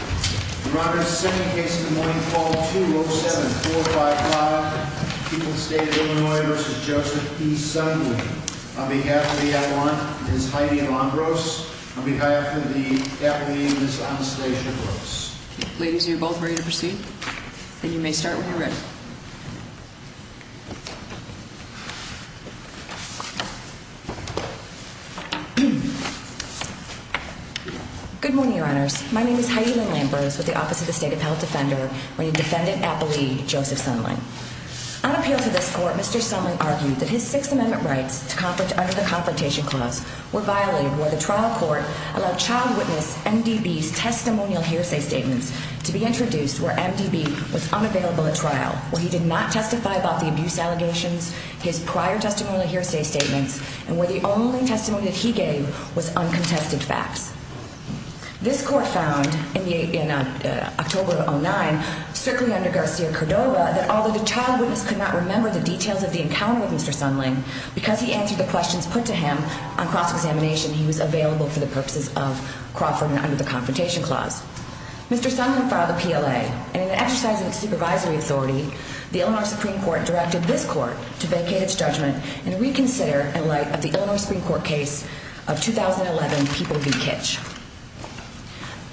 On behalf of the Adelante, Ms. Heidi Alombros. On behalf of the Adelante, Ms. Anastasia Gross. Ladies, are you both ready to proceed? Then you may start when you're ready. Good morning, Your Honors. My name is Heidi Alombros with the Office of the State Appellate Defender, where you defended Appellee Joseph Sundling. On appeal to this court, Mr. Sundling argued that his Sixth Amendment rights under the Confrontation Clause were violated where the trial court allowed child witness MDB's testimonial hearsay statements to be introduced where MDB was unavailable at trial, where he did not testify about the abuse allegations, his prior testimonial hearsay statements, and where the only testimony that he gave was uncontested facts. This court found in October of 2009, strictly under Garcia-Cordova, that although the child witness could not remember the details of the encounter with Mr. Sundling, because he answered the questions put to him on cross-examination, he was available for the purposes of Crawford and under the Confrontation Clause. Mr. Sundling filed a PLA, and in exercising its supervisory authority, the Illinois Supreme Court directed this court to vacate its judgment and reconsider in light of the Illinois Supreme Court case of 2011, People v. Kitch.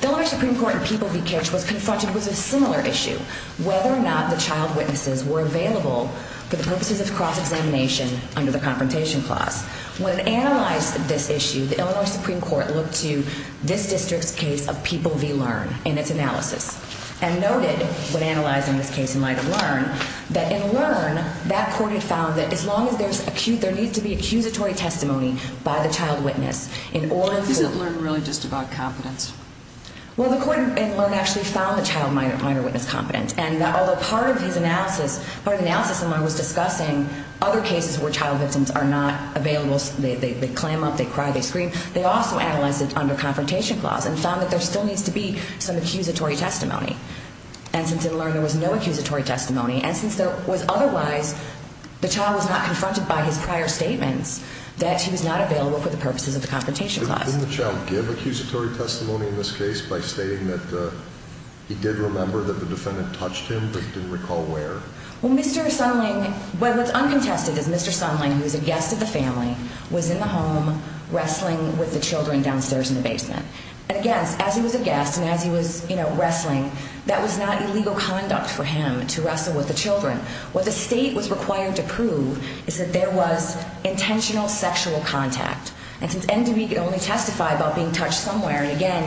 The Illinois Supreme Court in People v. Kitch was confronted with a similar issue, whether or not the child witnesses were available for the purposes of cross-examination under the Confrontation Clause. When it analyzed this issue, the Illinois Supreme Court looked to this district's case of People v. Learn in its analysis, and noted, when analyzing this case in light of Learn, that in Learn, that court had found that as long as there needs to be accusatory testimony by the child witness in all of the... Isn't Learn really just about competence? Well, the court in Learn actually found the child minor witness competent, and although part of his analysis, part of the analysis in Learn was discussing other cases where child victims are not available, they clam up, they cry, they scream, they also analyzed it under Confrontation Clause and found that there still needs to be some accusatory testimony. And since in Learn there was no accusatory testimony, and since there was otherwise, the child was not confronted by his prior statements that he was not available for the purposes of the Confrontation Clause. Didn't the child give accusatory testimony in this case by stating that he did remember that the defendant touched him, but he didn't recall where? Well, Mr. Sundling... Well, what's uncontested is Mr. Sundling, who was a guest of the family, was in the home wrestling with the children downstairs in the basement. And again, as he was a guest and as he was, you know, wrestling, that was not illegal conduct for him to wrestle with the children. What the state was required to prove is that there was intentional sexual contact. And since NDB could only testify about being touched somewhere, and again,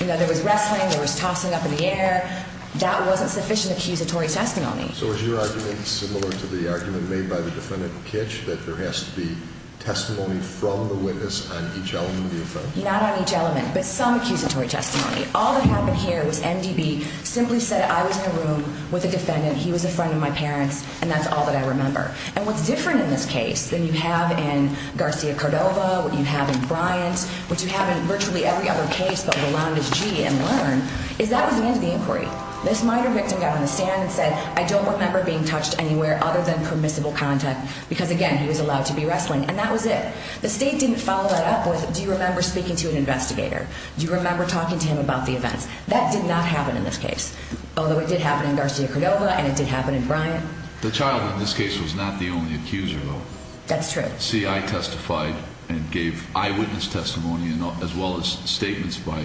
you know, there was wrestling, there was tossing up in the air, that wasn't sufficient accusatory testimony. So is your argument similar to the argument made by the defendant in Kitch, that there has to be testimony from the witness on each element of the offense? Not on each element, but some accusatory testimony. All that happened here was NDB simply said, I was in a room with a defendant, he was a friend of my parents, and that's all that I remember. And what's different in this case than you have in Garcia-Cordova, what you have in Bryant, what you have in virtually every other case but Rolando's G in Learn, is that was the end of the inquiry. This minor victim got on the stand and said, I don't remember being touched anywhere other than permissible contact, because again, he was allowed to be wrestling. And that was it. The state didn't follow that up with, do you remember speaking to an investigator? Do you remember talking to him about the events? That did not happen in this case, although it did happen in Garcia-Cordova and it did happen in Bryant. The child in this case was not the only accuser, though. That's true. CI testified and gave eyewitness testimony as well as statements by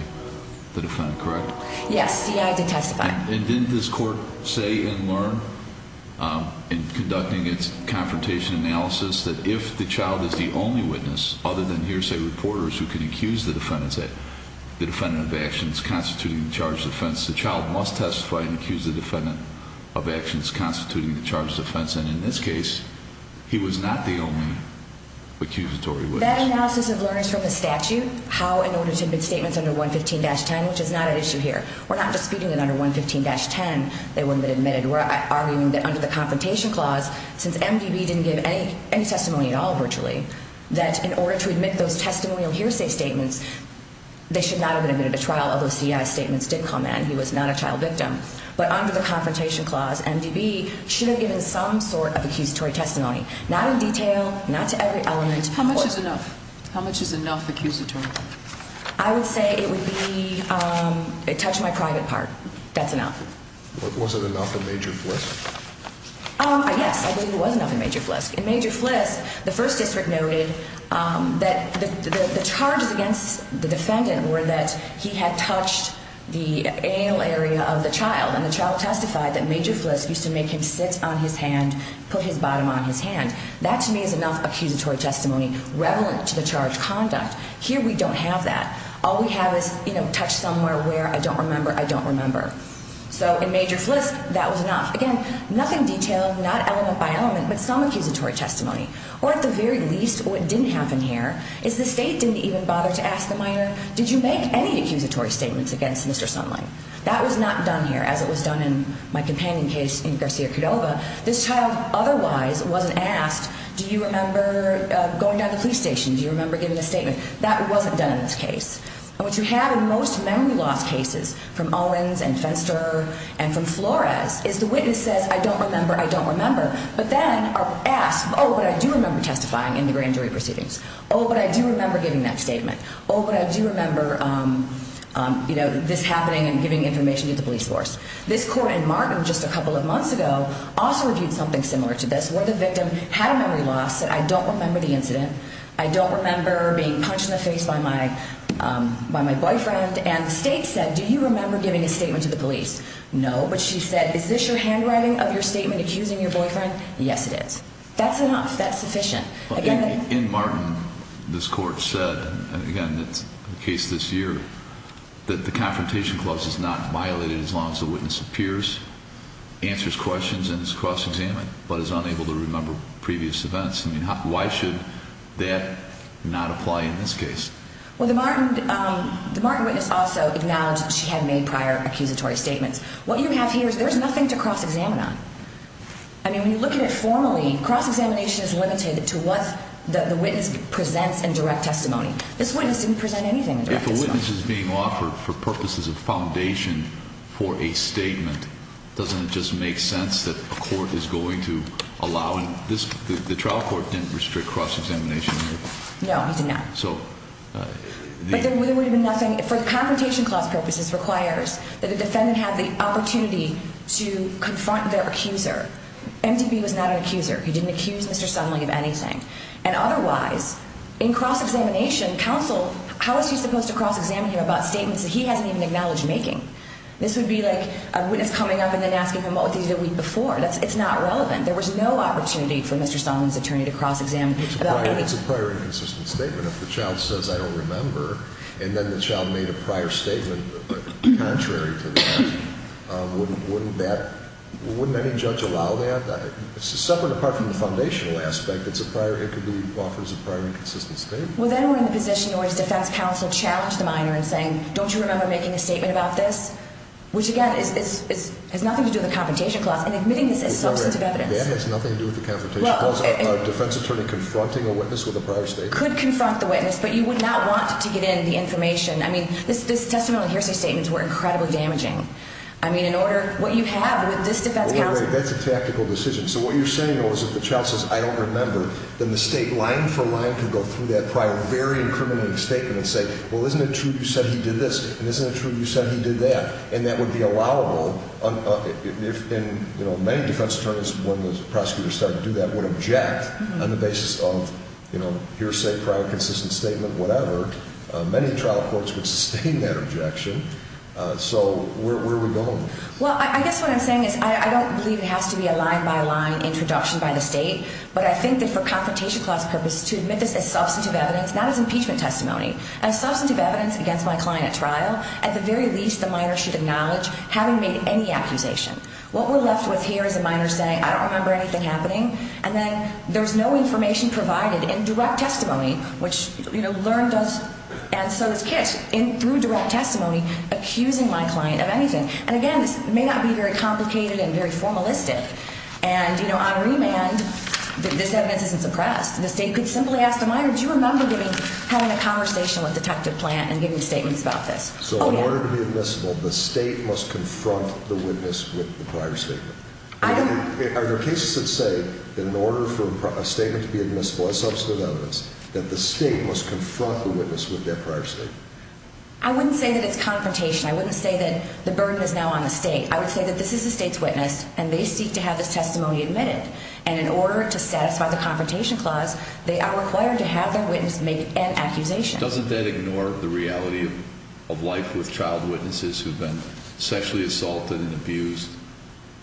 the defendant, correct? Yes, CI did testify. And didn't this court say in Learn, in conducting its confrontation analysis, that if the child is the only witness other than hearsay reporters who can accuse the defendant of actions constituting the charge of offense, the child must testify and accuse the defendant of actions constituting the charge of offense? And in this case, he was not the only accusatory witness. In that analysis of Learners from the statute, how in order to admit statements under 115-10, which is not at issue here, we're not disputing that under 115-10 they wouldn't have been admitted. We're arguing that under the confrontation clause, since MDB didn't give any testimony at all virtually, that in order to admit those testimonial hearsay statements, they should not have been admitted to trial, although CI's statements did come in. He was not a child victim. But under the confrontation clause, MDB should have given some sort of accusatory testimony, not in detail, not to every element. How much is enough? How much is enough accusatory? I would say it would be, it touched my private part. That's enough. Was it enough in Major Flisk? Yes, I believe it was enough in Major Flisk. In Major Flisk, the first district noted that the charges against the defendant were that he had touched the anal area of the child. And the child testified that Major Flisk used to make him sit on his hand, put his bottom on his hand. That, to me, is enough accusatory testimony, revelant to the charge conduct. Here we don't have that. All we have is, you know, touch somewhere where I don't remember, I don't remember. So in Major Flisk, that was enough. Again, nothing detailed, not element by element, but some accusatory testimony. Or at the very least, what didn't happen here is the state didn't even bother to ask the minor, did you make any accusatory statements against Mr. Sunlight? That was not done here, as it was done in my companion case in Garcia-Cordova. This child otherwise wasn't asked, do you remember going down to the police station? Do you remember giving a statement? That wasn't done in this case. And what you have in most memory loss cases from Owens and Fenster and from Flores is the witness says, I don't remember, I don't remember. But then are asked, oh, but I do remember testifying in the grand jury proceedings. Oh, but I do remember giving that statement. Oh, but I do remember, you know, this happening and giving information to the police force. This court in Martin just a couple of months ago also reviewed something similar to this, where the victim had a memory loss, said I don't remember the incident. I don't remember being punched in the face by my boyfriend. And the state said, do you remember giving a statement to the police? No. But she said, is this your handwriting of your statement accusing your boyfriend? Yes, it is. That's enough. That's sufficient. In Martin, this court said, and again, it's the case this year, that the confrontation clause is not violated as long as the witness appears, answers questions, and is cross-examined, but is unable to remember previous events. I mean, why should that not apply in this case? Well, the Martin witness also acknowledged she had made prior accusatory statements. What you have here is there's nothing to cross-examine on. I mean, when you look at it formally, cross-examination is limited to what the witness presents in direct testimony. This witness didn't present anything in direct testimony. If a witness is being offered for purposes of foundation for a statement, doesn't it just make sense that the court is going to allow it? The trial court didn't restrict cross-examination here. No, it did not. But then there would have been nothing. For confrontation clause purposes, it requires that the defendant have the opportunity to confront their accuser. MTB was not an accuser. He didn't accuse Mr. Sunling of anything. And otherwise, in cross-examination, counsel, how is he supposed to cross-examine him about statements that he hasn't even acknowledged making? This would be like a witness coming up and then asking him what he did the week before. It's not relevant. There was no opportunity for Mr. Sunling's attorney to cross-examine about anything. It's a prior and consistent statement. If the child says, I don't remember, and then the child made a prior statement contrary to that, wouldn't that – wouldn't any judge allow that? It's separate apart from the foundational aspect. It's a prior – it could be offered as a prior and consistent statement. Well, then we're in the position in which defense counsel challenged the minor in saying, don't you remember making a statement about this? Which, again, is – has nothing to do with the confrontation clause. And admitting this is substantive evidence. That has nothing to do with the confrontation clause. A defense attorney confronting a witness with a prior statement. Could confront the witness, but you would not want to get in the information. I mean, this – this testimony and hearsay statements were incredibly damaging. I mean, in order – what you have with this defense counsel – Wait a minute. That's a tactical decision. So what you're saying, though, is if the child says, I don't remember, then the state, line for line, can go through that prior, very incriminating statement and say, well, isn't it true you said he did this and isn't it true you said he did that? And that would be allowable if – and, you know, many defense attorneys, when the prosecutors start to do that, would object on the basis of, you know, hearsay, prior, consistent statement, whatever. Many trial courts would sustain that objection. So where are we going with this? Well, I guess what I'm saying is I don't believe it has to be a line by line introduction by the state. But I think that for confrontation clause purposes, to admit this as substantive evidence, not as impeachment testimony, as substantive evidence against my client at trial, at the very least, the minor should acknowledge having made any accusation. What we're left with here is a minor saying, I don't remember anything happening. And then there's no information provided in direct testimony, which, you know, LEARN does. And so it's Kiss, through direct testimony, accusing my client of anything. And, again, this may not be very complicated and very formalistic. And, you know, on remand, this evidence isn't suppressed. The state could simply ask the minor, do you remember having a conversation with Detective Plant and giving statements about this? So in order to be admissible, the state must confront the witness with the prior statement. Are there cases that say, in order for a statement to be admissible as substantive evidence, that the state must confront the witness with their prior statement? I wouldn't say that it's confrontation. I wouldn't say that the burden is now on the state. I would say that this is the state's witness, and they seek to have this testimony admitted. And in order to satisfy the confrontation clause, they are required to have their witness make an accusation. Doesn't that ignore the reality of life with child witnesses who've been sexually assaulted and abused?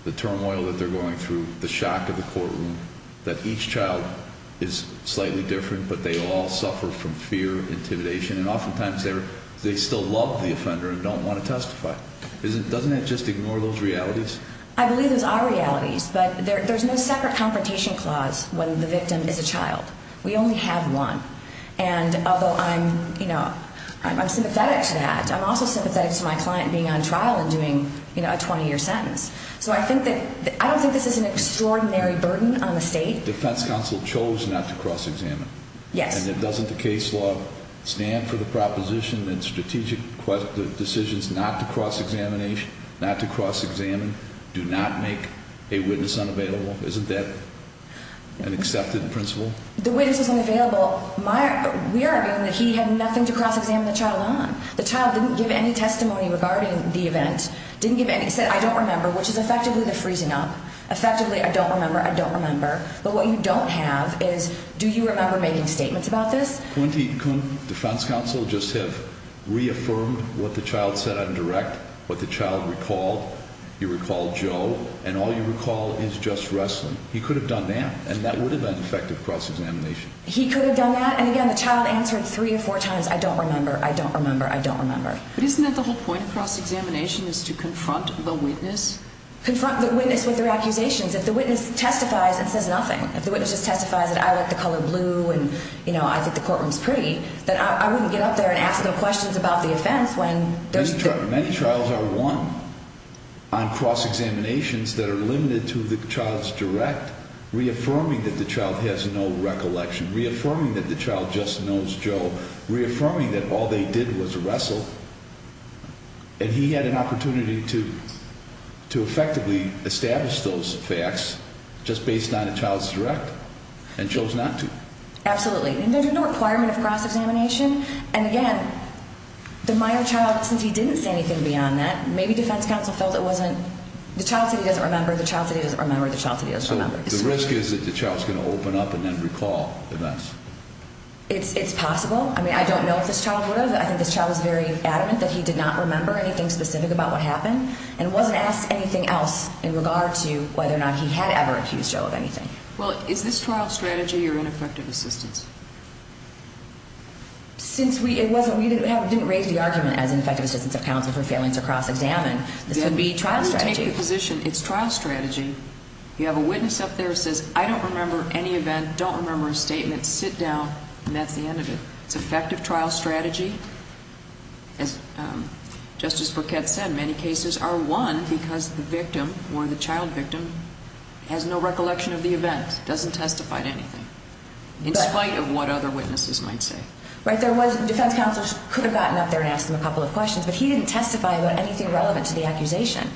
The turmoil that they're going through, the shock of the courtroom, that each child is slightly different, but they all suffer from fear, intimidation. And oftentimes they still love the offender and don't want to testify. Doesn't that just ignore those realities? I believe those are realities, but there's no separate confrontation clause when the victim is a child. We only have one. And although I'm sympathetic to that, I'm also sympathetic to my client being on trial and doing a 20-year sentence. So I don't think this is an extraordinary burden on the state. Defense counsel chose not to cross-examine. Yes. And doesn't the case law stand for the proposition that strategic decisions not to cross-examine do not make a witness unavailable? Isn't that an accepted principle? The witness is unavailable. We are arguing that he had nothing to cross-examine the child on. The child didn't give any testimony regarding the event. He said, I don't remember, which is effectively the freezing up. Effectively, I don't remember, I don't remember. But what you don't have is, do you remember making statements about this? Couldn't the defense counsel just have reaffirmed what the child said on direct, what the child recalled? He recalled Joe, and all you recall is just wrestling. He could have done that, and that would have been effective cross-examination. He could have done that, and again, the child answered three or four times, I don't remember, I don't remember, I don't remember. But isn't that the whole point of cross-examination is to confront the witness? Confront the witness with their accusations. If the witness testifies and says nothing, if the witness just testifies that I like the color blue and, you know, I think the courtroom is pretty, then I wouldn't get up there and ask them questions about the offense when there's the- Many trials are won on cross-examinations that are limited to the child's direct, reaffirming that the child has no recollection, reaffirming that the child just knows Joe, reaffirming that all they did was wrestle. And he had an opportunity to effectively establish those facts just based on the child's direct and chose not to. Absolutely, and there's no requirement of cross-examination. And again, the minor child, since he didn't say anything beyond that, maybe defense counsel felt it wasn't- the child said he doesn't remember, the child said he doesn't remember, the child said he doesn't remember. So the risk is that the child's going to open up and then recall the mess. It's possible. I mean, I don't know if this child would have. I think this child was very adamant that he did not remember anything specific about what happened and wasn't asked anything else in regard to whether or not he had ever accused Joe of anything. Well, is this trial strategy or ineffective assistance? Since we- it wasn't- we didn't raise the argument as ineffective assistance of counsel for failing to cross-examine. This would be trial strategy. We take the position it's trial strategy. You have a witness up there who says, I don't remember any event, don't remember a statement, sit down, and that's the end of it. It's effective trial strategy. As Justice Burkett said, many cases are won because the victim or the child victim has no recollection of the event, doesn't testify to anything, in spite of what other witnesses might say. Right, there was- defense counsel could have gotten up there and asked him a couple of questions, but he didn't testify about anything relevant to the accusation.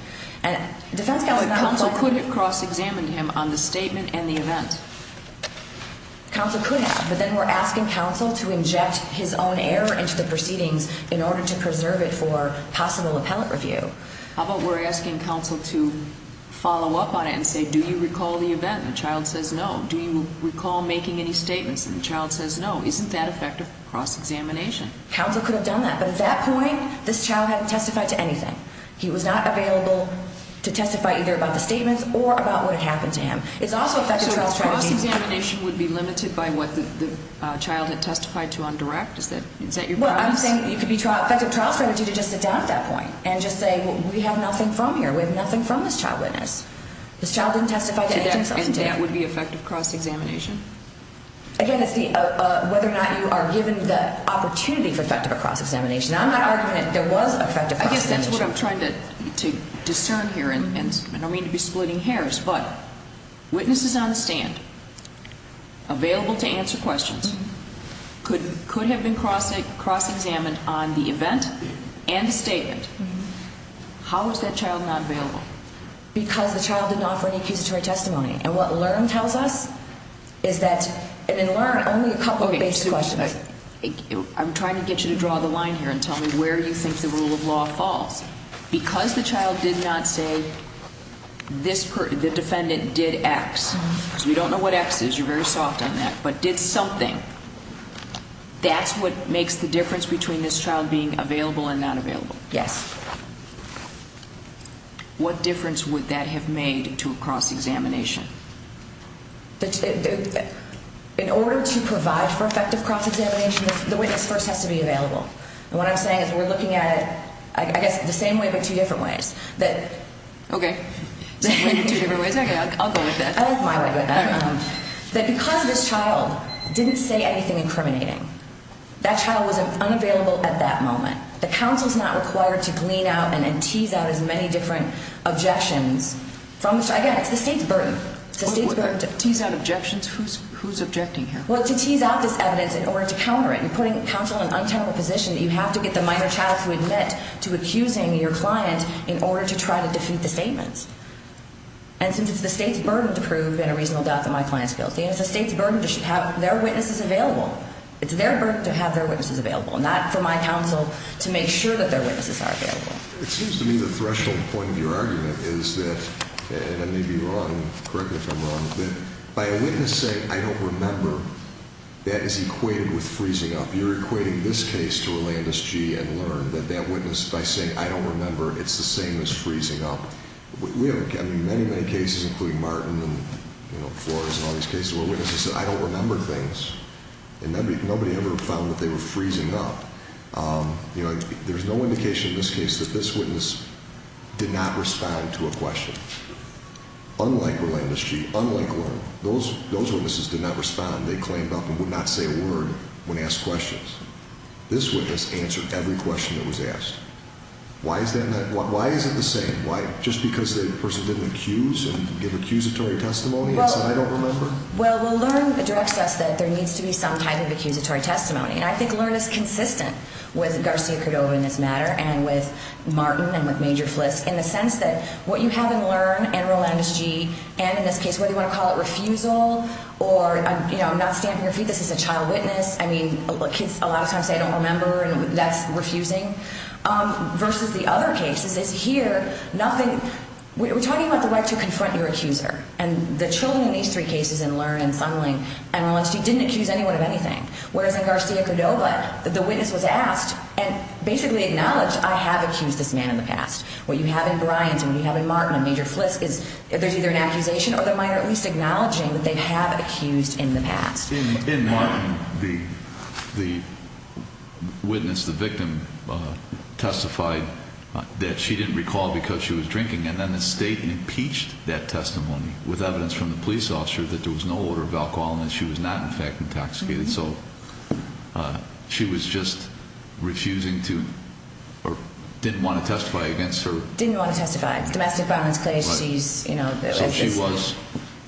And defense counsel- Counsel could have cross-examined him on the statement and the event. Counsel could have. But then we're asking counsel to inject his own error into the proceedings in order to preserve it for possible appellate review. How about we're asking counsel to follow up on it and say, do you recall the event? And the child says no. Do you recall making any statements? And the child says no. Isn't that effective cross-examination? Counsel could have done that. But at that point, this child hadn't testified to anything. He was not available to testify either about the statements or about what had happened to him. It's also effective cross-examination. So cross-examination would be limited by what the child had testified to on direct? Is that your premise? Well, I'm saying it could be effective cross-examination to just sit down at that point and just say, we have nothing from here, we have nothing from this child witness. This child didn't testify to anything. And that would be effective cross-examination? Again, it's whether or not you are given the opportunity for effective cross-examination. I'm not arguing that there was effective cross-examination. I guess that's what I'm trying to discern here, and I don't mean to be splitting hairs, but witnesses on the stand, available to answer questions, could have been cross-examined on the event and the statement. How was that child not available? Because the child didn't offer any accusatory testimony. And what LEARN tells us is that in LEARN, only a couple of basic questions. I'm trying to get you to draw the line here and tell me where you think the rule of law falls. Because the child did not say, the defendant did X, because we don't know what X is, you're very soft on that, but did something, that's what makes the difference between this child being available and not available? Yes. What difference would that have made to a cross-examination? In order to provide for effective cross-examination, the witness first has to be available. And what I'm saying is we're looking at it, I guess, the same way but two different ways. Okay. Two different ways? Okay, I'll go with that. I'll go with my way. That because this child didn't say anything incriminating, that child was unavailable at that moment. The counsel's not required to glean out and then tease out as many different objections. Again, it's the state's burden. Tease out objections? Who's objecting here? Well, to tease out this evidence in order to counter it. I'm putting counsel in an untenable position that you have to get the minor child to admit to accusing your client in order to try to defeat the statements. And since it's the state's burden to prove in a reasonable doubt that my client's guilty, it's the state's burden to have their witnesses available. It's their burden to have their witnesses available, not for my counsel to make sure that their witnesses are available. It seems to me the threshold point of your argument is that, and I may be wrong, correct me if I'm wrong, that by a witness saying, I don't remember, that is equated with freezing up. You're equating this case to Rolandus G. and Learn, that that witness, by saying, I don't remember, it's the same as freezing up. We have many, many cases, including Martin and Flores and all these cases where witnesses said, I don't remember things. And nobody ever found that they were freezing up. There's no indication in this case that this witness did not respond to a question. Unlike Rolandus G., unlike Learn, those witnesses did not respond. They cleaned up and would not say a word when asked questions. This witness answered every question that was asked. Why is it the same? Just because the person didn't accuse and give accusatory testimony and said, I don't remember? Well, Learn directs us that there needs to be some type of accusatory testimony. And I think Learn is consistent with Garcia-Cordova in this matter and with Martin and with Major Flisk in the sense that what you have in Learn and Rolandus G. and in this case, whether you want to call it refusal or, you know, not stamping your feet, this is a child witness. I mean, kids a lot of times say, I don't remember, and that's refusing. Versus the other cases, it's here, nothing, we're talking about the right to confront your accuser. And the children in these three cases in Learn and Sunling and Rolandus G. didn't accuse anyone of anything. Whereas in Garcia-Cordova, the witness was asked and basically acknowledged, I have accused this man in the past. What you have in Bryant and what you have in Martin and Major Flisk is there's either an accusation or the minor at least acknowledging that they have accused in the past. In Martin, the witness, the victim, testified that she didn't recall because she was drinking, and then the state impeached that testimony with evidence from the police officer that there was no order of alcohol and that she was not, in fact, intoxicated. So she was just refusing to or didn't want to testify against her. Didn't want to testify. Domestic violence claims, she's, you know. So she was,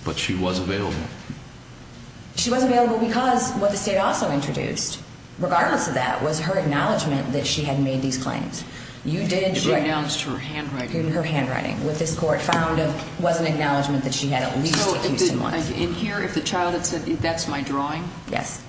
but she was available. She was available because what the state also introduced, regardless of that, was her acknowledgment that she had made these claims. You didn't. It renounced her handwriting. Her handwriting. What this court found was an acknowledgment that she had at least accused someone. In here, if the child had said, that's my drawing? Yes.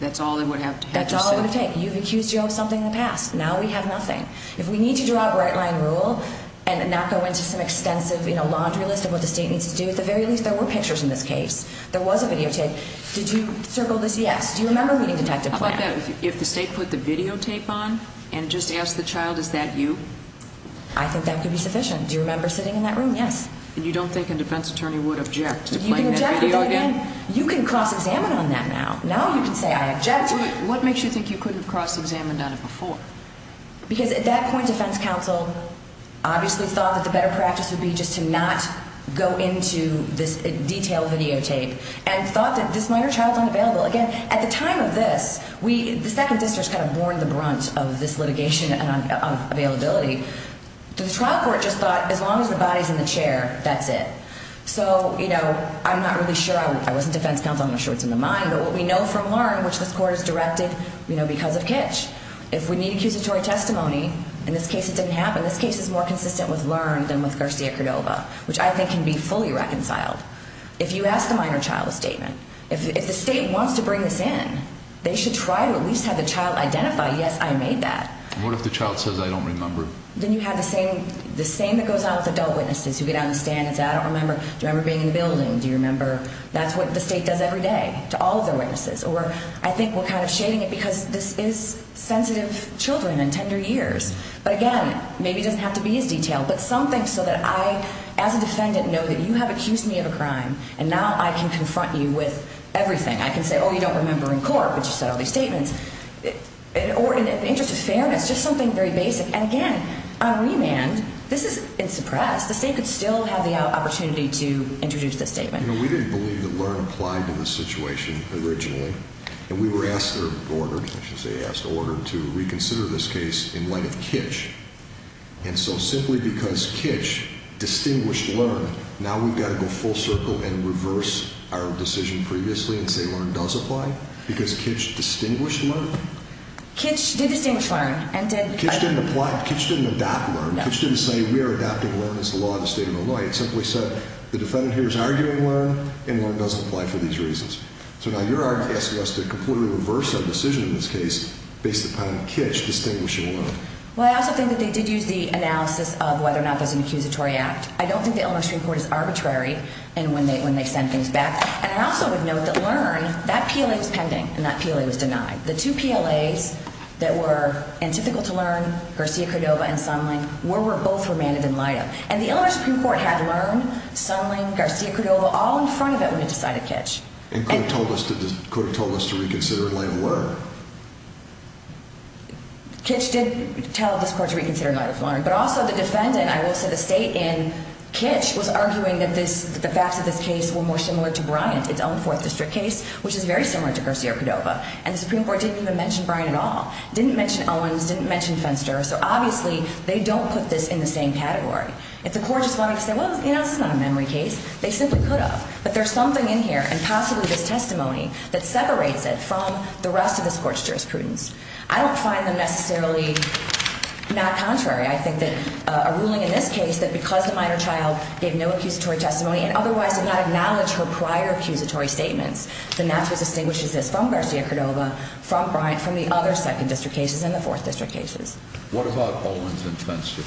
That's all it would have to say? That's all it would take. You've accused Joe of something in the past. Now we have nothing. If we need to draw a bright line rule and not go into some extensive, you know, laundry list of what the state needs to do, at the very least there were pictures in this case. There was a videotape. Did you circle this? Yes. Do you remember reading detective plan? How about that? If the state put the videotape on and just asked the child, is that you? I think that could be sufficient. Do you remember sitting in that room? Yes. And you don't think a defense attorney would object to playing that video again? You can cross-examine on that now. Now you can say, I object to it. What makes you think you couldn't have cross-examined on it before? Because at that point, defense counsel obviously thought that the better practice would be just to not go into this detailed videotape and thought that this minor child's unavailable. Again, at the time of this, the second district kind of borne the brunt of this litigation of availability. The trial court just thought, as long as the body's in the chair, that's it. So, you know, I'm not really sure. I wasn't defense counsel. I'm not sure what's in the mind. But what we know from LEARN, which this court has directed, you know, because of Kitch, if we need accusatory testimony, in this case it didn't happen. This case is more consistent with LEARN than with Garcia-Cordova, which I think can be fully reconciled. If you ask a minor child a statement, if the state wants to bring this in, they should try to at least have the child identify, yes, I made that. What if the child says, I don't remember? Then you have the same that goes out with adult witnesses who get on the stand and say, I don't remember. Do you remember being in the building? Do you remember? That's what the state does every day to all of their witnesses. Or I think we're kind of shading it because this is sensitive children and tender years. But, again, maybe it doesn't have to be as detailed. But something so that I, as a defendant, know that you have accused me of a crime, and now I can confront you with everything. I can say, oh, you don't remember in court, but you said all these statements. Or in the interest of fairness, just something very basic. And, again, on remand, this is suppressed. The state could still have the opportunity to introduce this statement. We didn't believe that LEARN applied to the situation originally. And we were asked or ordered, I should say asked or ordered, to reconsider this case in light of Kitch. And so simply because Kitch distinguished LEARN, now we've got to go full circle and reverse our decision previously and say LEARN does apply? Because Kitch distinguished LEARN? Kitch did distinguish LEARN. Kitch didn't apply. Kitch didn't adopt LEARN. Kitch didn't say we are adopting LEARN as the law of the state of Illinois. It simply said the defendant here is arguing LEARN, and LEARN doesn't apply for these reasons. So now you're asking us to completely reverse our decision in this case based upon Kitch distinguishing LEARN. Well, I also think that they did use the analysis of whether or not that's an accusatory act. I don't think the Illinois Supreme Court is arbitrary in when they send things back. And I also would note that LEARN, that PLA was pending, and that PLA was denied. The two PLAs that were antithetical to LEARN, Garcia-Cordova and Sunling, were both remanded in light of. And the Illinois Supreme Court had LEARN, Sunling, Garcia-Cordova all in front of it when it decided Kitch. And could have told us to reconsider in light of LEARN. Kitch did tell this court to reconsider in light of LEARN. But also the defendant, I will say the state in Kitch, was arguing that the facts of this case were more similar to Bryant, its own Fourth District case, which is very similar to Garcia-Cordova. And the Supreme Court didn't even mention Bryant at all. Didn't mention Owens, didn't mention Fenster. So obviously they don't put this in the same category. If the court just wanted to say, well, you know, this is not a memory case, they simply could have. But there's something in here, and possibly this testimony, that separates it from the rest of this court's jurisprudence. I don't find them necessarily not contrary. I think that a ruling in this case, that because the minor child gave no accusatory testimony and otherwise did not acknowledge her prior accusatory statements, then that's what distinguishes this from Garcia-Cordova, from Bryant, from the other Second District cases and the Fourth District cases. What about Owens and Fenster?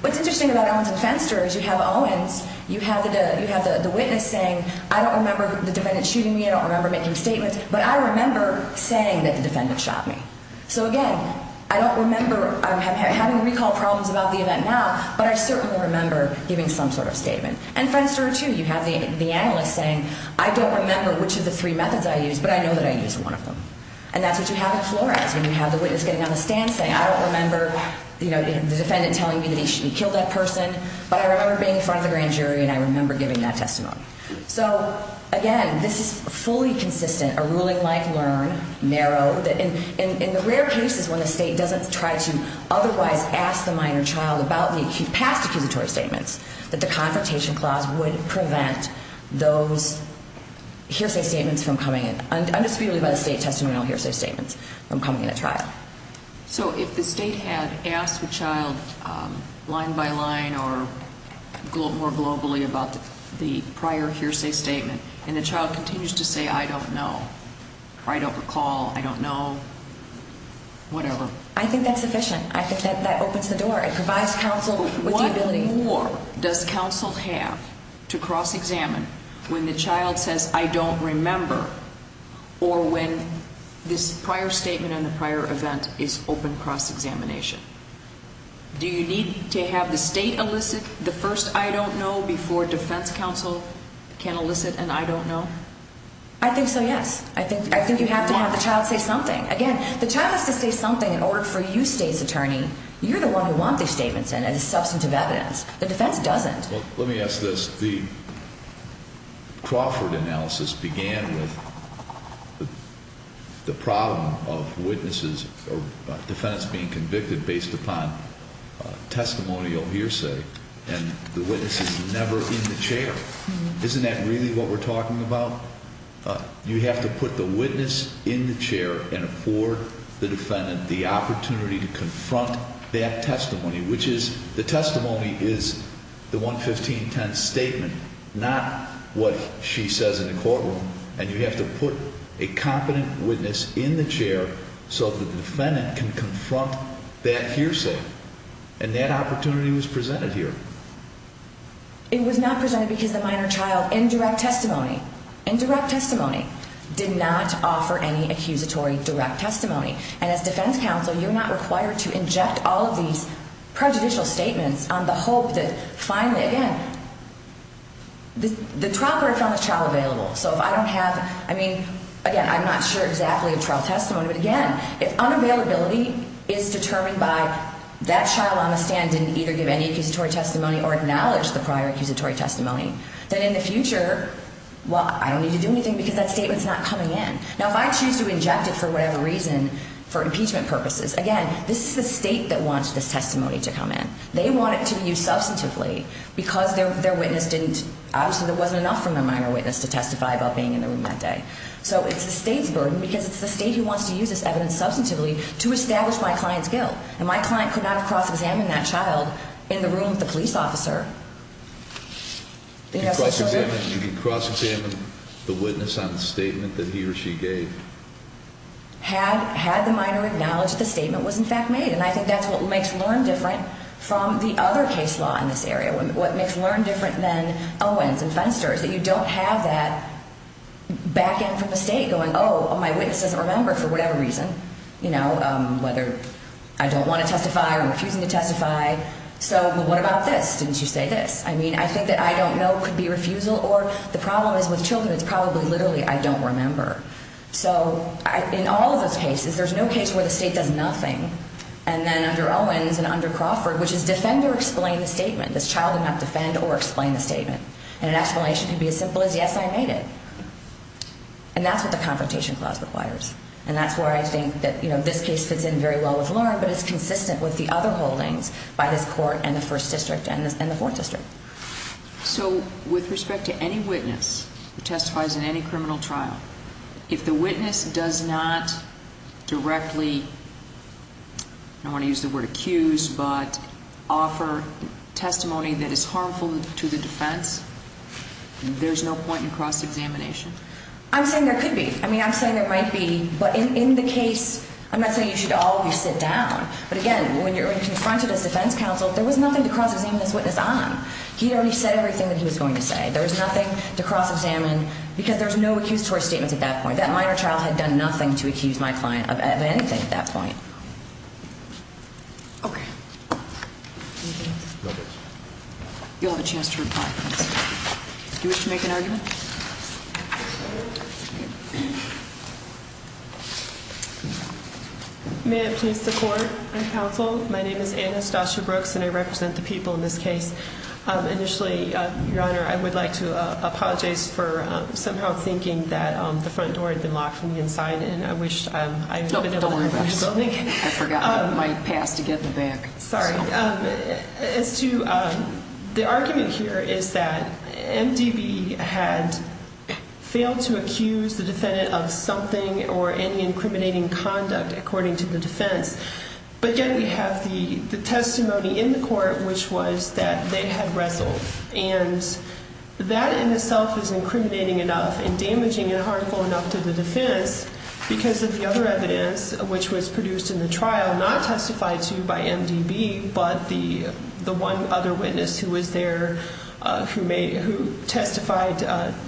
What's interesting about Owens and Fenster is you have Owens, you have the witness saying, I don't remember the defendant shooting me, I don't remember making statements, but I remember saying that the defendant shot me. So again, I don't remember having recall problems about the event now, but I certainly remember giving some sort of statement. And Fenster, too, you have the analyst saying, I don't remember which of the three methods I used, but I know that I used one of them. And that's what you have in Flores, when you have the witness getting on the stand saying, I don't remember the defendant telling me that he killed that person, but I remember being in front of the grand jury and I remember giving that testimony. So again, this is fully consistent, a ruling-like learn, narrow. In the rare cases when the state doesn't try to otherwise ask the minor child about the past accusatory statements, that the Confrontation Clause would prevent those hearsay statements from coming in, undisputedly by the state, testimonial hearsay statements from coming in at trial. So if the state had asked the child line by line or more globally about the prior hearsay statement, and the child continues to say, I don't know, or I don't recall, I don't know, whatever. I think that's sufficient. I think that opens the door. It provides counsel with the ability. What more does counsel have to cross-examine when the child says, I don't remember, or when this prior statement and the prior event is open cross-examination? Do you need to have the state elicit the first, I don't know, before defense counsel can elicit an I don't know? I think so, yes. I think you have to have the child say something. Again, the child has to say something in order for you, state's attorney, you're the one who wants these statements in as substantive evidence. The defense doesn't. Well, let me ask this. The Crawford analysis began with the problem of witnesses or defendants being convicted based upon testimonial hearsay, and the witness is never in the chair. Isn't that really what we're talking about? You have to put the witness in the chair and afford the defendant the opportunity to confront that testimony, which is the testimony is the 11510 statement, not what she says in the courtroom, and you have to put a competent witness in the chair so that the defendant can confront that hearsay, and that opportunity was presented here. It was not presented because the minor child, in direct testimony, in direct testimony, did not offer any accusatory direct testimony, and as defense counsel, you're not required to inject all of these prejudicial statements on the hope that finally, again, the trial court found this child available. So if I don't have, I mean, again, I'm not sure exactly of trial testimony, but again, if unavailability is determined by that child on the stand didn't either give any accusatory testimony or acknowledge the prior accusatory testimony, then in the future, well, I don't need to do anything because that statement's not coming in. Now, if I choose to inject it for whatever reason, for impeachment purposes, again, this is the state that wants this testimony to come in. They want it to be used substantively because their witness didn't, obviously, there wasn't enough from their minor witness to testify about being in the room that day. So it's the state's burden because it's the state who wants to use this evidence substantively to establish my client's guilt, and my client could not have cross-examined that child in the room with the police officer. Do you cross-examine the witness on the statement that he or she gave? Had the minor acknowledged the statement was, in fact, made, and I think that's what makes Learne different from the other case law in this area. What makes Learne different than Owens and Fenster is that you don't have that back-end from the state going, oh, my witness doesn't remember for whatever reason, you know, whether I don't want to testify or refusing to testify. So what about this? Didn't you say this? I mean, I think that I don't know could be refusal or the problem is with children, it's probably literally I don't remember. So in all of those cases, there's no case where the state does nothing. And then under Owens and under Crawford, which is defend or explain the statement. This child did not defend or explain the statement. And an explanation could be as simple as yes, I made it. And that's what the confrontation clause requires. And that's where I think that, you know, this case fits in very well with Learne, but it's consistent with the other holdings by this court and the first district and the fourth district. So with respect to any witness who testifies in any criminal trial, if the witness does not directly, I don't want to use the word accused, but offer testimony that is harmful to the defense, there's no point in cross-examination? I'm saying there could be. I mean, I'm saying there might be. But in the case, I'm not saying you should always sit down. But again, when you're confronted as defense counsel, there was nothing to cross-examine this witness on. He already said everything that he was going to say. There was nothing to cross-examine because there's no accusatory statements at that point. That minor child had done nothing to accuse my client of anything at that point. Okay. Anything else? No, thanks. You'll have a chance to reply. Do you wish to make an argument? Yes. May it please the court and counsel, my name is Annastacia Brooks, and I represent the people in this case. Initially, Your Honor, I would like to apologize for somehow thinking that the front door had been locked from the inside, and I wish I had been able to open the building. Don't worry about it. I forgot my pass to get in the back. Sorry. As to the argument here is that MDB had failed to accuse the defendant of something or any incriminating conduct according to the defense. But, again, we have the testimony in the court, which was that they had wrestled. And that in itself is incriminating enough and damaging and harmful enough to the defense because of the other evidence, which was produced in the trial, not testified to by MDB, but the one other witness who was there who testified,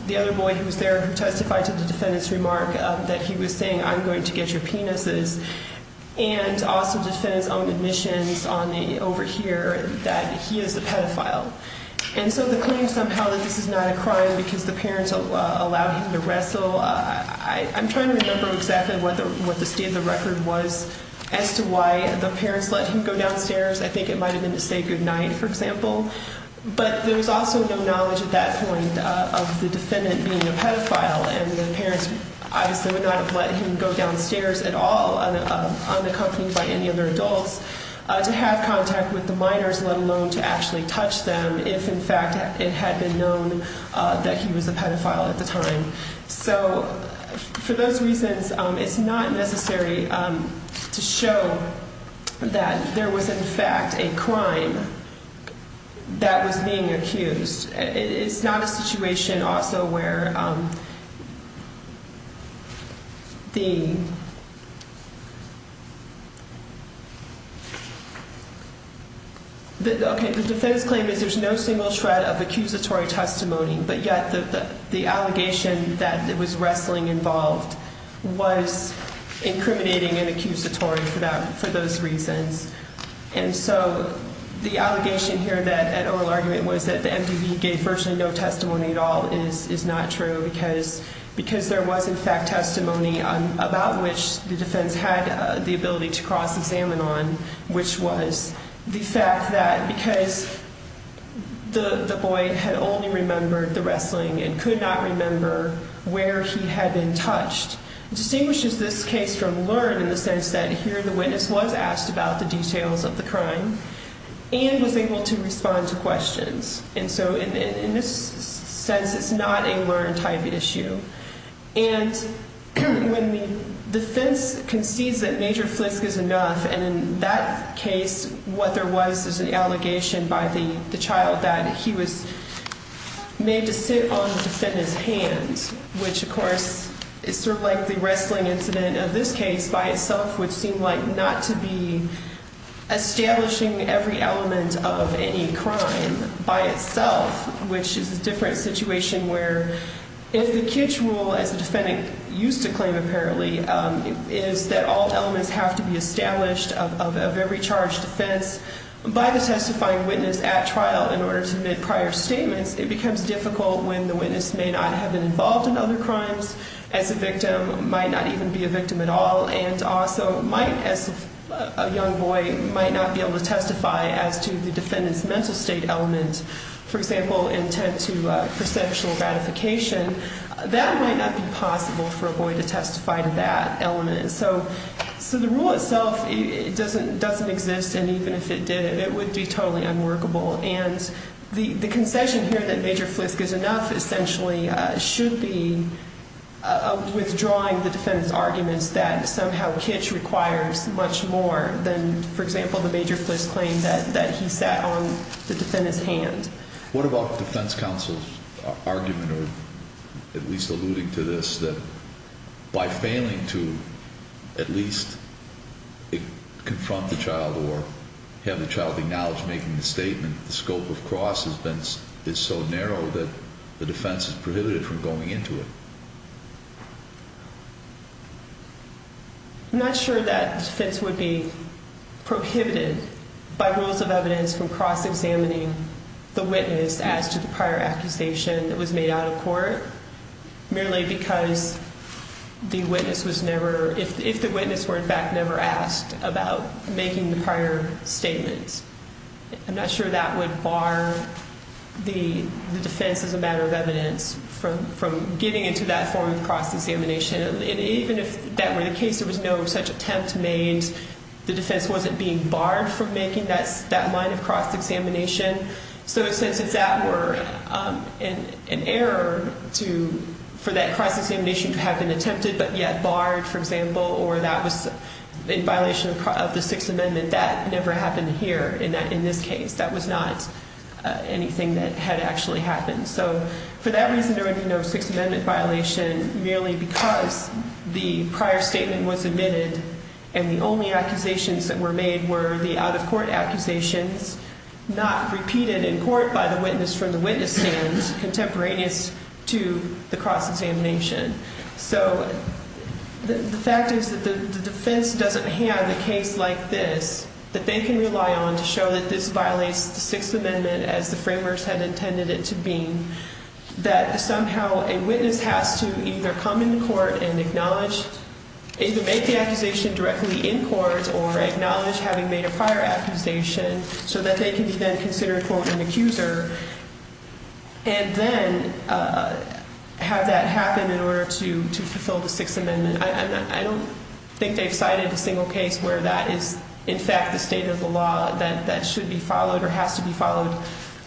the other boy who was there who testified to the defendant's remark that he was saying, I'm going to get your penises, and also the defendant's own admissions over here that he is a pedophile. And so the claim somehow that this is not a crime because the parents allowed him to wrestle, I'm trying to remember exactly what the state of the record was as to why the parents let him go downstairs. I think it might have been to say goodnight, for example. But there was also no knowledge at that point of the defendant being a pedophile, and the parents obviously would not have let him go downstairs at all unaccompanied by any other adults to have contact with the minors, let alone to actually touch them, if, in fact, it had been known that he was a pedophile at the time. So for those reasons, it's not necessary to show that there was, in fact, a crime that was being accused. It's not a situation also where the defense claim is there's no single shred of accusatory testimony, but yet the allegation that there was wrestling involved was incriminating and accusatory for those reasons. And so the allegation here that an oral argument was that the MDV gave virtually no testimony at all is not true because there was, in fact, testimony about which the defense had the ability to cross-examine on, which was the fact that because the boy had only remembered the wrestling and could not remember where he had been touched, distinguishes this case from LEARN in the sense that here the witness was asked about the details of the crime and was able to respond to questions. And so in this sense, it's not a LEARN-type issue. And when the defense concedes that Major Flisk is enough, and in that case, what there was is an allegation by the child that he was made to sit on the defendant's hand, which, of course, is sort of like the wrestling incident of this case by itself, which seemed like not to be establishing every element of any crime by itself, which is a different situation where if the kitsch rule, as the defendant used to claim apparently, is that all elements have to be established of every charged offense by the testifying witness at trial in order to make prior statements, it becomes difficult when the witness may not have been involved in other crimes as a victim, might not even be a victim at all, and also might, as a young boy, might not be able to testify as to the defendant's mental state element. For example, intent to perceptual gratification, that might not be possible for a boy to testify to that element. So the rule itself doesn't exist, and even if it did, it would be totally unworkable. And the concession here that Major Flisk is enough essentially should be withdrawing the defendant's arguments that somehow kitsch requires much more than, for example, the Major Flisk claim that he sat on the defendant's hand. What about the defense counsel's argument, or at least alluding to this, that by failing to at least confront the child or have the child acknowledge making the statement, the scope of cross is so narrow that the defense is prohibited from going into it? I'm not sure that the defense would be prohibited by rules of evidence from cross-examining the witness as to the prior accusation that was made out of court merely because the witness was never, if the witness were, in fact, never asked about making the prior statements. I'm not sure that would bar the defense as a matter of evidence from getting into that form of cross-examination. And even if that were the case, there was no such attempt made, the defense wasn't being barred from making that line of cross-examination. So since it's an error for that cross-examination to have been attempted but yet barred, for example, or that was in violation of the Sixth Amendment, that never happened here in this case. That was not anything that had actually happened. So for that reason, there would be no Sixth Amendment violation merely because the prior statement was admitted and the only accusations that were made were the out-of-court accusations, not repeated in court by the witness from the witness stand contemporaneous to the cross-examination. So the fact is that the defense doesn't have a case like this that they can rely on to show that this violates the Sixth Amendment as the framers had intended it to be, that somehow a witness has to either come into court and acknowledge, either make the accusation directly in court or acknowledge having made a prior accusation so that they can be then considered, quote, an accuser and then have that happen in order to fulfill the Sixth Amendment. I don't think they've cited a single case where that is, in fact, the state of the law that should be followed or has to be followed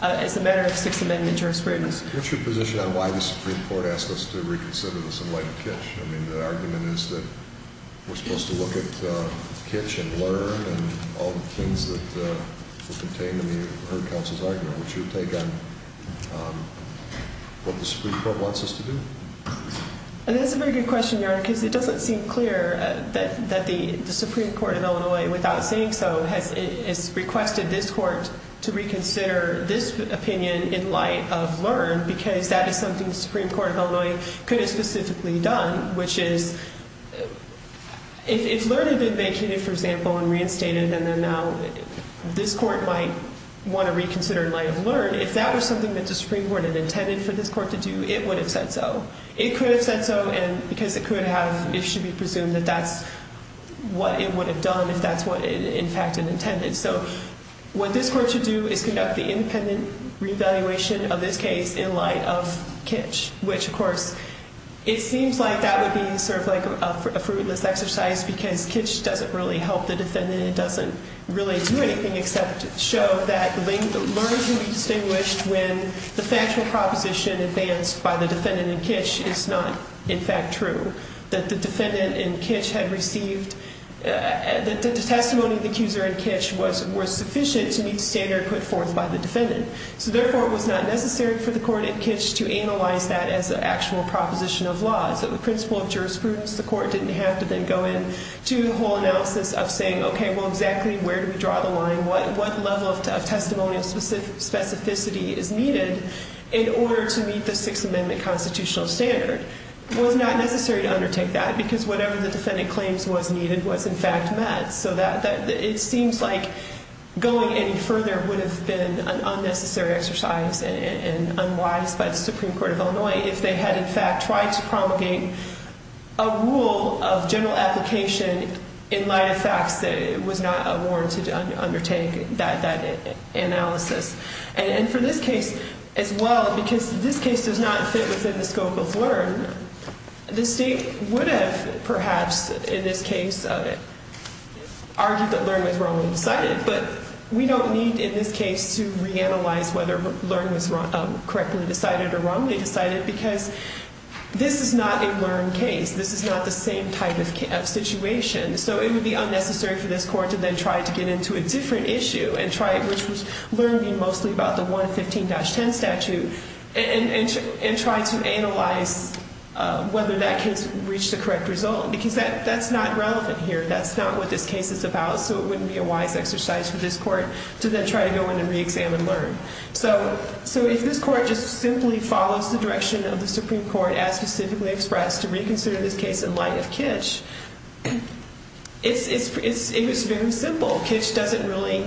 as a matter of Sixth Amendment jurisprudence. What's your position on why the Supreme Court asked us to reconsider this in light of Kitch? I mean, the argument is that we're supposed to look at Kitch and Learn and all the things that are contained in the Heard Counsel's argument. What's your take on what the Supreme Court wants us to do? That's a very good question, Your Honor, because it doesn't seem clear that the Supreme Court in Illinois, without saying so, has requested this court to reconsider this opinion in light of Learn because that is something the Supreme Court of Illinois could have specifically done, which is if Learn had been vacated, for example, and reinstated, and then now this court might want to reconsider in light of Learn, if that was something that the Supreme Court had intended for this court to do, it would have said so. It could have said so because it could have, it should be presumed that that's what it would have done if that's what, in fact, it intended. So what this court should do is conduct the independent reevaluation of this case in light of Kitch, which, of course, it seems like that would be sort of like a fruitless exercise because Kitch doesn't really help the defendant. It doesn't really do anything except show that Learn can be distinguished when the factual proposition advanced by the defendant in Kitch is not, in fact, true. That the defendant in Kitch had received, that the testimony of the accuser in Kitch was sufficient to meet the standard put forth by the defendant. So therefore, it was not necessary for the court in Kitch to analyze that as an actual proposition of law. So the principle of jurisprudence, the court didn't have to then go into the whole analysis of saying, okay, well, exactly where do we draw the line, what level of testimonial specificity is needed in order to meet the Sixth Amendment constitutional standard. It was not necessary to undertake that because whatever the defendant claims was needed was, in fact, met. So it seems like going any further would have been an unnecessary exercise and unwise by the Supreme Court of Illinois if they had, in fact, tried to promulgate a rule of general application in light of facts that it was not warranted to undertake that analysis. And for this case, as well, because this case does not fit within the scope of LEARN, the state would have, perhaps, in this case, argued that LEARN was wrongly decided. But we don't need, in this case, to reanalyze whether LEARN was correctly decided or wrongly decided because this is not a LEARN case. This is not the same type of situation. So it would be unnecessary for this court to then try to get into a different issue and try it, which was LEARN being mostly about the 115-10 statute, and try to analyze whether that case reached the correct result. Because that's not relevant here. That's not what this case is about. So it wouldn't be a wise exercise for this court to then try to go in and reexamine LEARN. So if this court just simply follows the direction of the Supreme Court, as specifically expressed, to reconsider this case in light of Kitch, it's very simple. Kitch doesn't really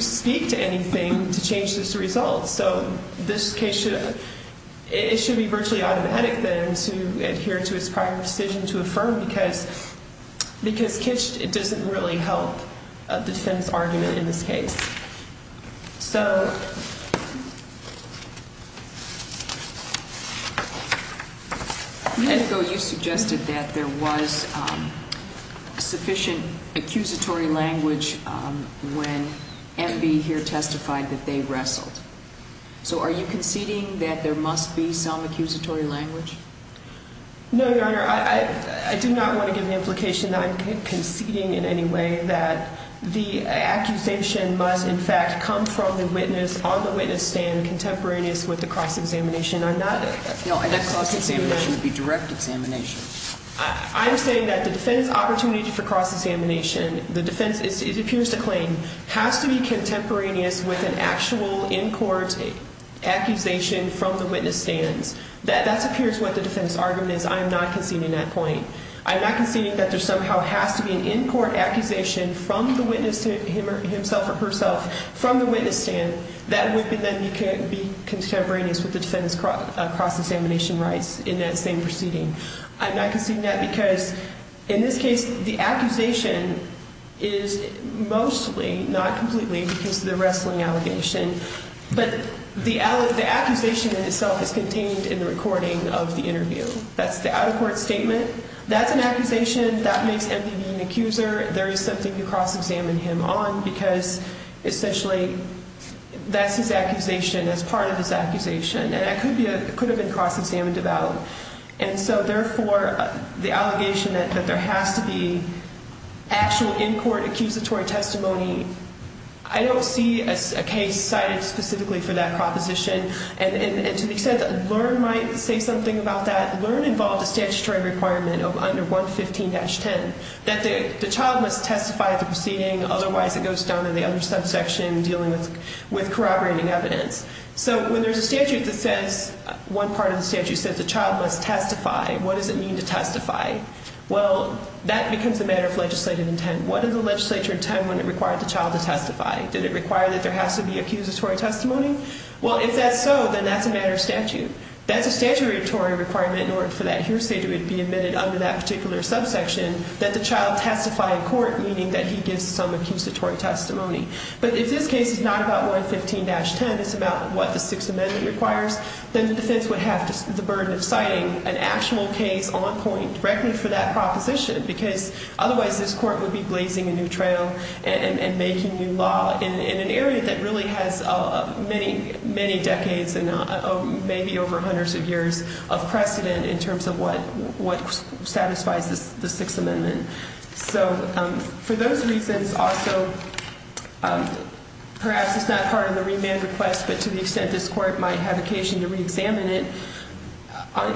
speak to anything to change this result. So this case should be virtually automatic then to adhere to its prior decision to affirm because Kitch doesn't really help defend this argument in this case. So... And so you suggested that there was sufficient accusatory language when MB here testified that they wrestled. So are you conceding that there must be some accusatory language? No, Your Honor. I do not want to give the implication that I'm conceding in any way that the accusation must, in fact, come from the witness on the witness stand contemporaneous with the cross-examination. I'm not... No, that cross-examination would be direct examination. I'm saying that the defense opportunity for cross-examination, the defense, it appears to claim, has to be contemporaneous with an actual in-court accusation from the witness stands. That appears what the defense argument is. I am not conceding that point. I'm not conceding that there somehow has to be an in-court accusation from the witness himself or herself, from the witness stand, that would then be contemporaneous with the defense cross-examination rights in that same proceeding. I'm not conceding that because, in this case, the accusation is mostly, not completely, because of the wrestling allegation, but the accusation in itself is contained in the recording of the interview. That's the out-of-court statement. That's an accusation. That makes MPB an accuser. There is something to cross-examine him on because, essentially, that's his accusation as part of his accusation, and it could have been cross-examined about. And so, therefore, the allegation that there has to be actual in-court accusatory testimony, I don't see a case cited specifically for that proposition. And, to an extent, LEARN might say something about that. LEARN involved a statutory requirement under 115-10 that the child must testify at the proceeding. Otherwise, it goes down to the other subsection dealing with corroborating evidence. So when there's a statute that says, one part of the statute says the child must testify, what does it mean to testify? Well, that becomes a matter of legislative intent. What does the legislature intend when it required the child to testify? Did it require that there has to be accusatory testimony? Well, if that's so, then that's a matter of statute. That's a statutory requirement in order for that hearsay to be admitted under that particular subsection, that the child testify in court, meaning that he gives some accusatory testimony. But if this case is not about 115-10, it's about what the Sixth Amendment requires, then the defense would have the burden of citing an actual case on point directly for that proposition because otherwise this court would be blazing a new trail and making new law in an area that really has many, many decades and maybe over hundreds of years of precedent in terms of what satisfies the Sixth Amendment. So for those reasons also, perhaps it's not part of the remand request, but to the extent this court might have occasion to reexamine it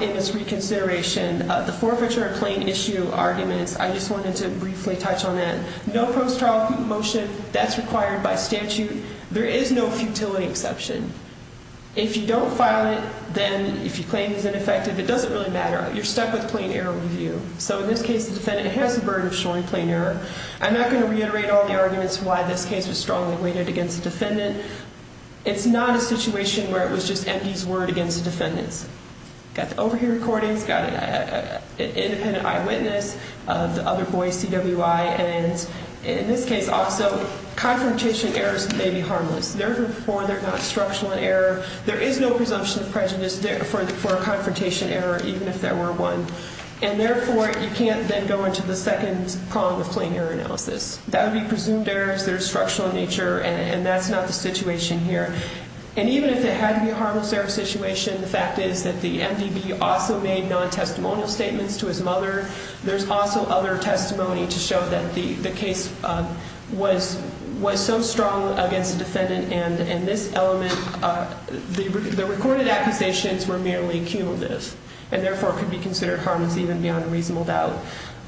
in this reconsideration, the forfeiture of plain issue arguments, I just wanted to briefly touch on that. No post-trial motion, that's required by statute. There is no futility exception. If you don't file it, then if you claim it's ineffective, it doesn't really matter. You're stuck with plain error review. So in this case, the defendant has the burden of showing plain error. I'm not going to reiterate all the arguments why this case was strongly weighted against the defendant. It's not a situation where it was just empties word against the defendants. Got the overhear recordings, got an independent eyewitness, the other boy CWI, and in this case also, confrontation errors may be harmless. Therefore, they're not structural in error. There is no presumption of prejudice for a confrontation error, even if there were one. And therefore, you can't then go into the second prong of plain error analysis. That would be presumed errors. They're structural in nature, and that's not the situation here. And even if it had to be a harmless error situation, the fact is that the MDB also made non-testimonial statements to his mother. There's also other testimony to show that the case was so strong against the defendant and this element, the recorded accusations were merely cumulative and therefore could be considered harmless even beyond reasonable doubt.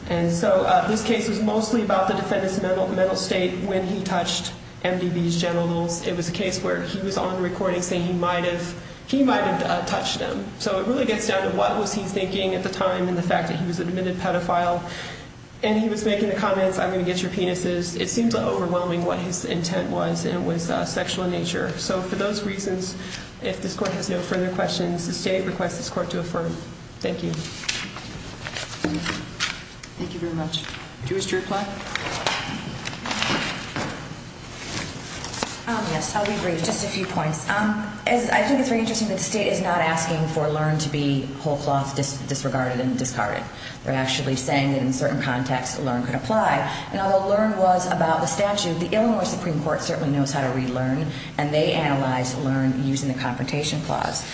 And so this case was mostly about the defendant's mental state when he touched MDB's genitals. It was a case where he was on the recording saying he might have touched them. So it really gets down to what was he thinking at the time and the fact that he was an admitted pedophile. And he was making the comments, I'm going to get your penises. It seems overwhelming what his intent was, and it was sexual in nature. So for those reasons, if this court has no further questions, the state requests this court to affirm. Thank you. Thank you very much. Do you wish to reply? Yes, I'll be brief. Just a few points. I think it's very interesting that the state is not asking for LEARN to be whole cloth disregarded and discarded. They're actually saying that in certain contexts LEARN could apply. And although LEARN was about the statute, the Illinois Supreme Court certainly knows how to read LEARN, and they analyze LEARN using the Confrontation Clause.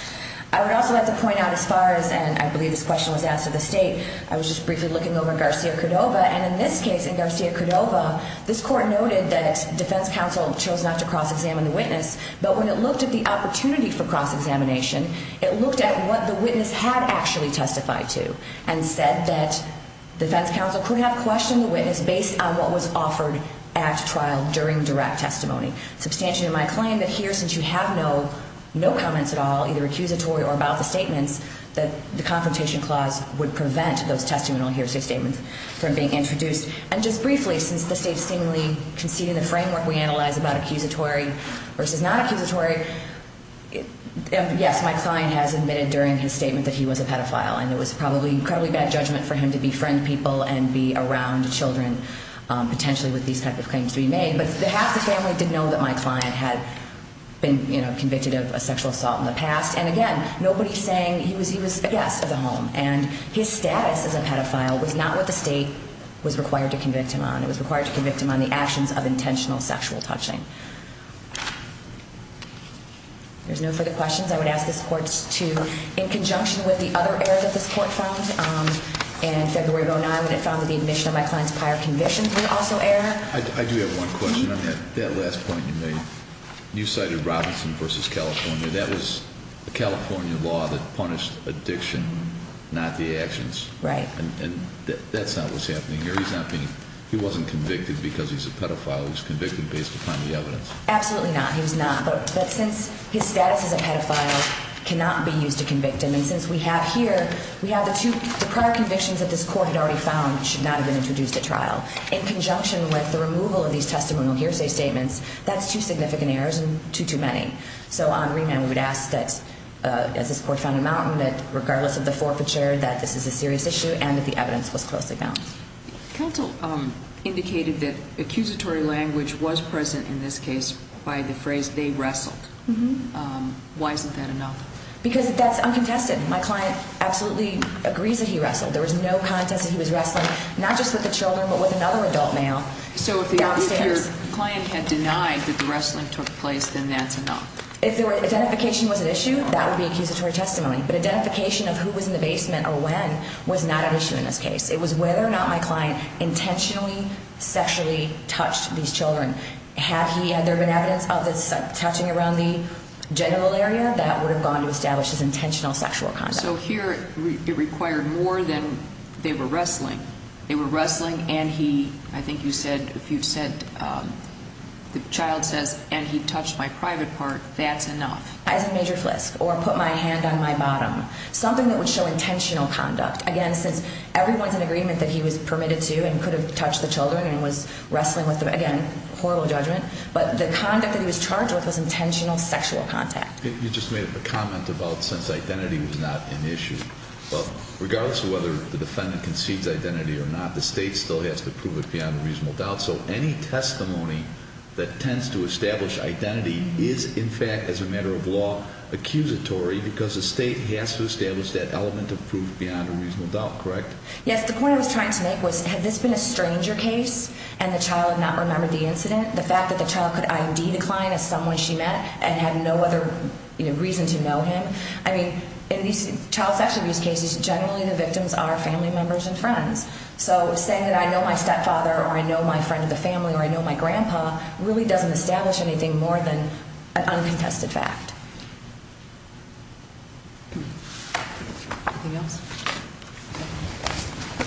I would also like to point out as far as, and I believe this question was asked of the state, I was just briefly looking over Garcia-Cordova, and in this case, in Garcia-Cordova, this court noted that defense counsel chose not to cross-examine the witness, but when it looked at the opportunity for cross-examination, it looked at what the witness had actually testified to and said that defense counsel could have questioned the witness based on what was offered at trial during direct testimony. Substantially to my claim that here, since you have no comments at all, either accusatory or about the statements, that the Confrontation Clause would prevent those testimonial hearsay statements from being introduced. And just briefly, since the state is seemingly conceding the framework we analyze about accusatory versus not accusatory, yes, my client has admitted during his statement that he was a pedophile, and it was probably incredibly bad judgment for him to befriend people and be around children potentially with these type of claims to be made. But half the family did know that my client had been convicted of a sexual assault in the past, and again, nobody saying he was a guest of the home. And his status as a pedophile was not what the state was required to convict him on. It was required to convict him on the actions of intentional sexual touching. There's no further questions. I would ask this court to, in conjunction with the other errors that this court found in February 2009 when it found that the admission of my client's prior convictions were also error. I do have one question. I mean, that last point you made, you cited Robinson v. California. That was the California law that punished addiction, not the actions. Right. And that's not what's happening here. He's not beingóhe wasn't convicted because he's a pedophile. He was convicted based upon the evidence. Absolutely not. He was not. But since his status as a pedophile cannot be used to convict him, and since we have hereówe have the twoóthe prior convictions that this court had already found should not have been introduced at trial, in conjunction with the removal of these testimonial hearsay statements, that's two significant errors and two too many. So on remand, we would ask that, as this court found out, that regardless of the forfeiture, that this is a serious issue and that the evidence was closely bound. Counsel indicated that accusatory language was present in this case by the phrase, they wrestled. Why isn't that enough? Because that's uncontested. My client absolutely agrees that he wrestled. There was no contest that he was wrestling, not just with the children, but with another adult male. So if your client had denied that the wrestling took place, then that's enough. If identification was an issue, that would be accusatory testimony. But identification of who was in the basement or when was not an issue in this case. It was whether or not my client intentionally sexually touched these children. Had there been evidence of this touching around the genital area, that would have gone to establish his intentional sexual conduct. So here it required more than they were wrestling. They were wrestling and he, I think you said, the child says, and he touched my private part, that's enough. As a major flisk or put my hand on my bottom. Something that would show intentional conduct. Again, since everyone's in agreement that he was permitted to and could have touched the children and was wrestling with them, again, horrible judgment. But the conduct that he was charged with was intentional sexual contact. You just made a comment about since identity was not an issue. Well, regardless of whether the defendant concedes identity or not, the state still has to prove it beyond a reasonable doubt. So any testimony that tends to establish identity is, in fact, as a matter of law, accusatory because the state has to establish that element of proof beyond a reasonable doubt. Correct? Yes. The point I was trying to make was, had this been a stranger case and the child not remembered the incident, the fact that the child could ID the client as someone she met and had no other reason to know him, I mean, in these child sexual abuse cases, generally the victims are family members and friends. So saying that I know my stepfather or I know my friend of the family or I know my grandpa really doesn't establish anything more than an uncontested fact. Anything else?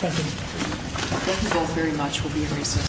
Thank you. Thank you both very much. We'll be in recess.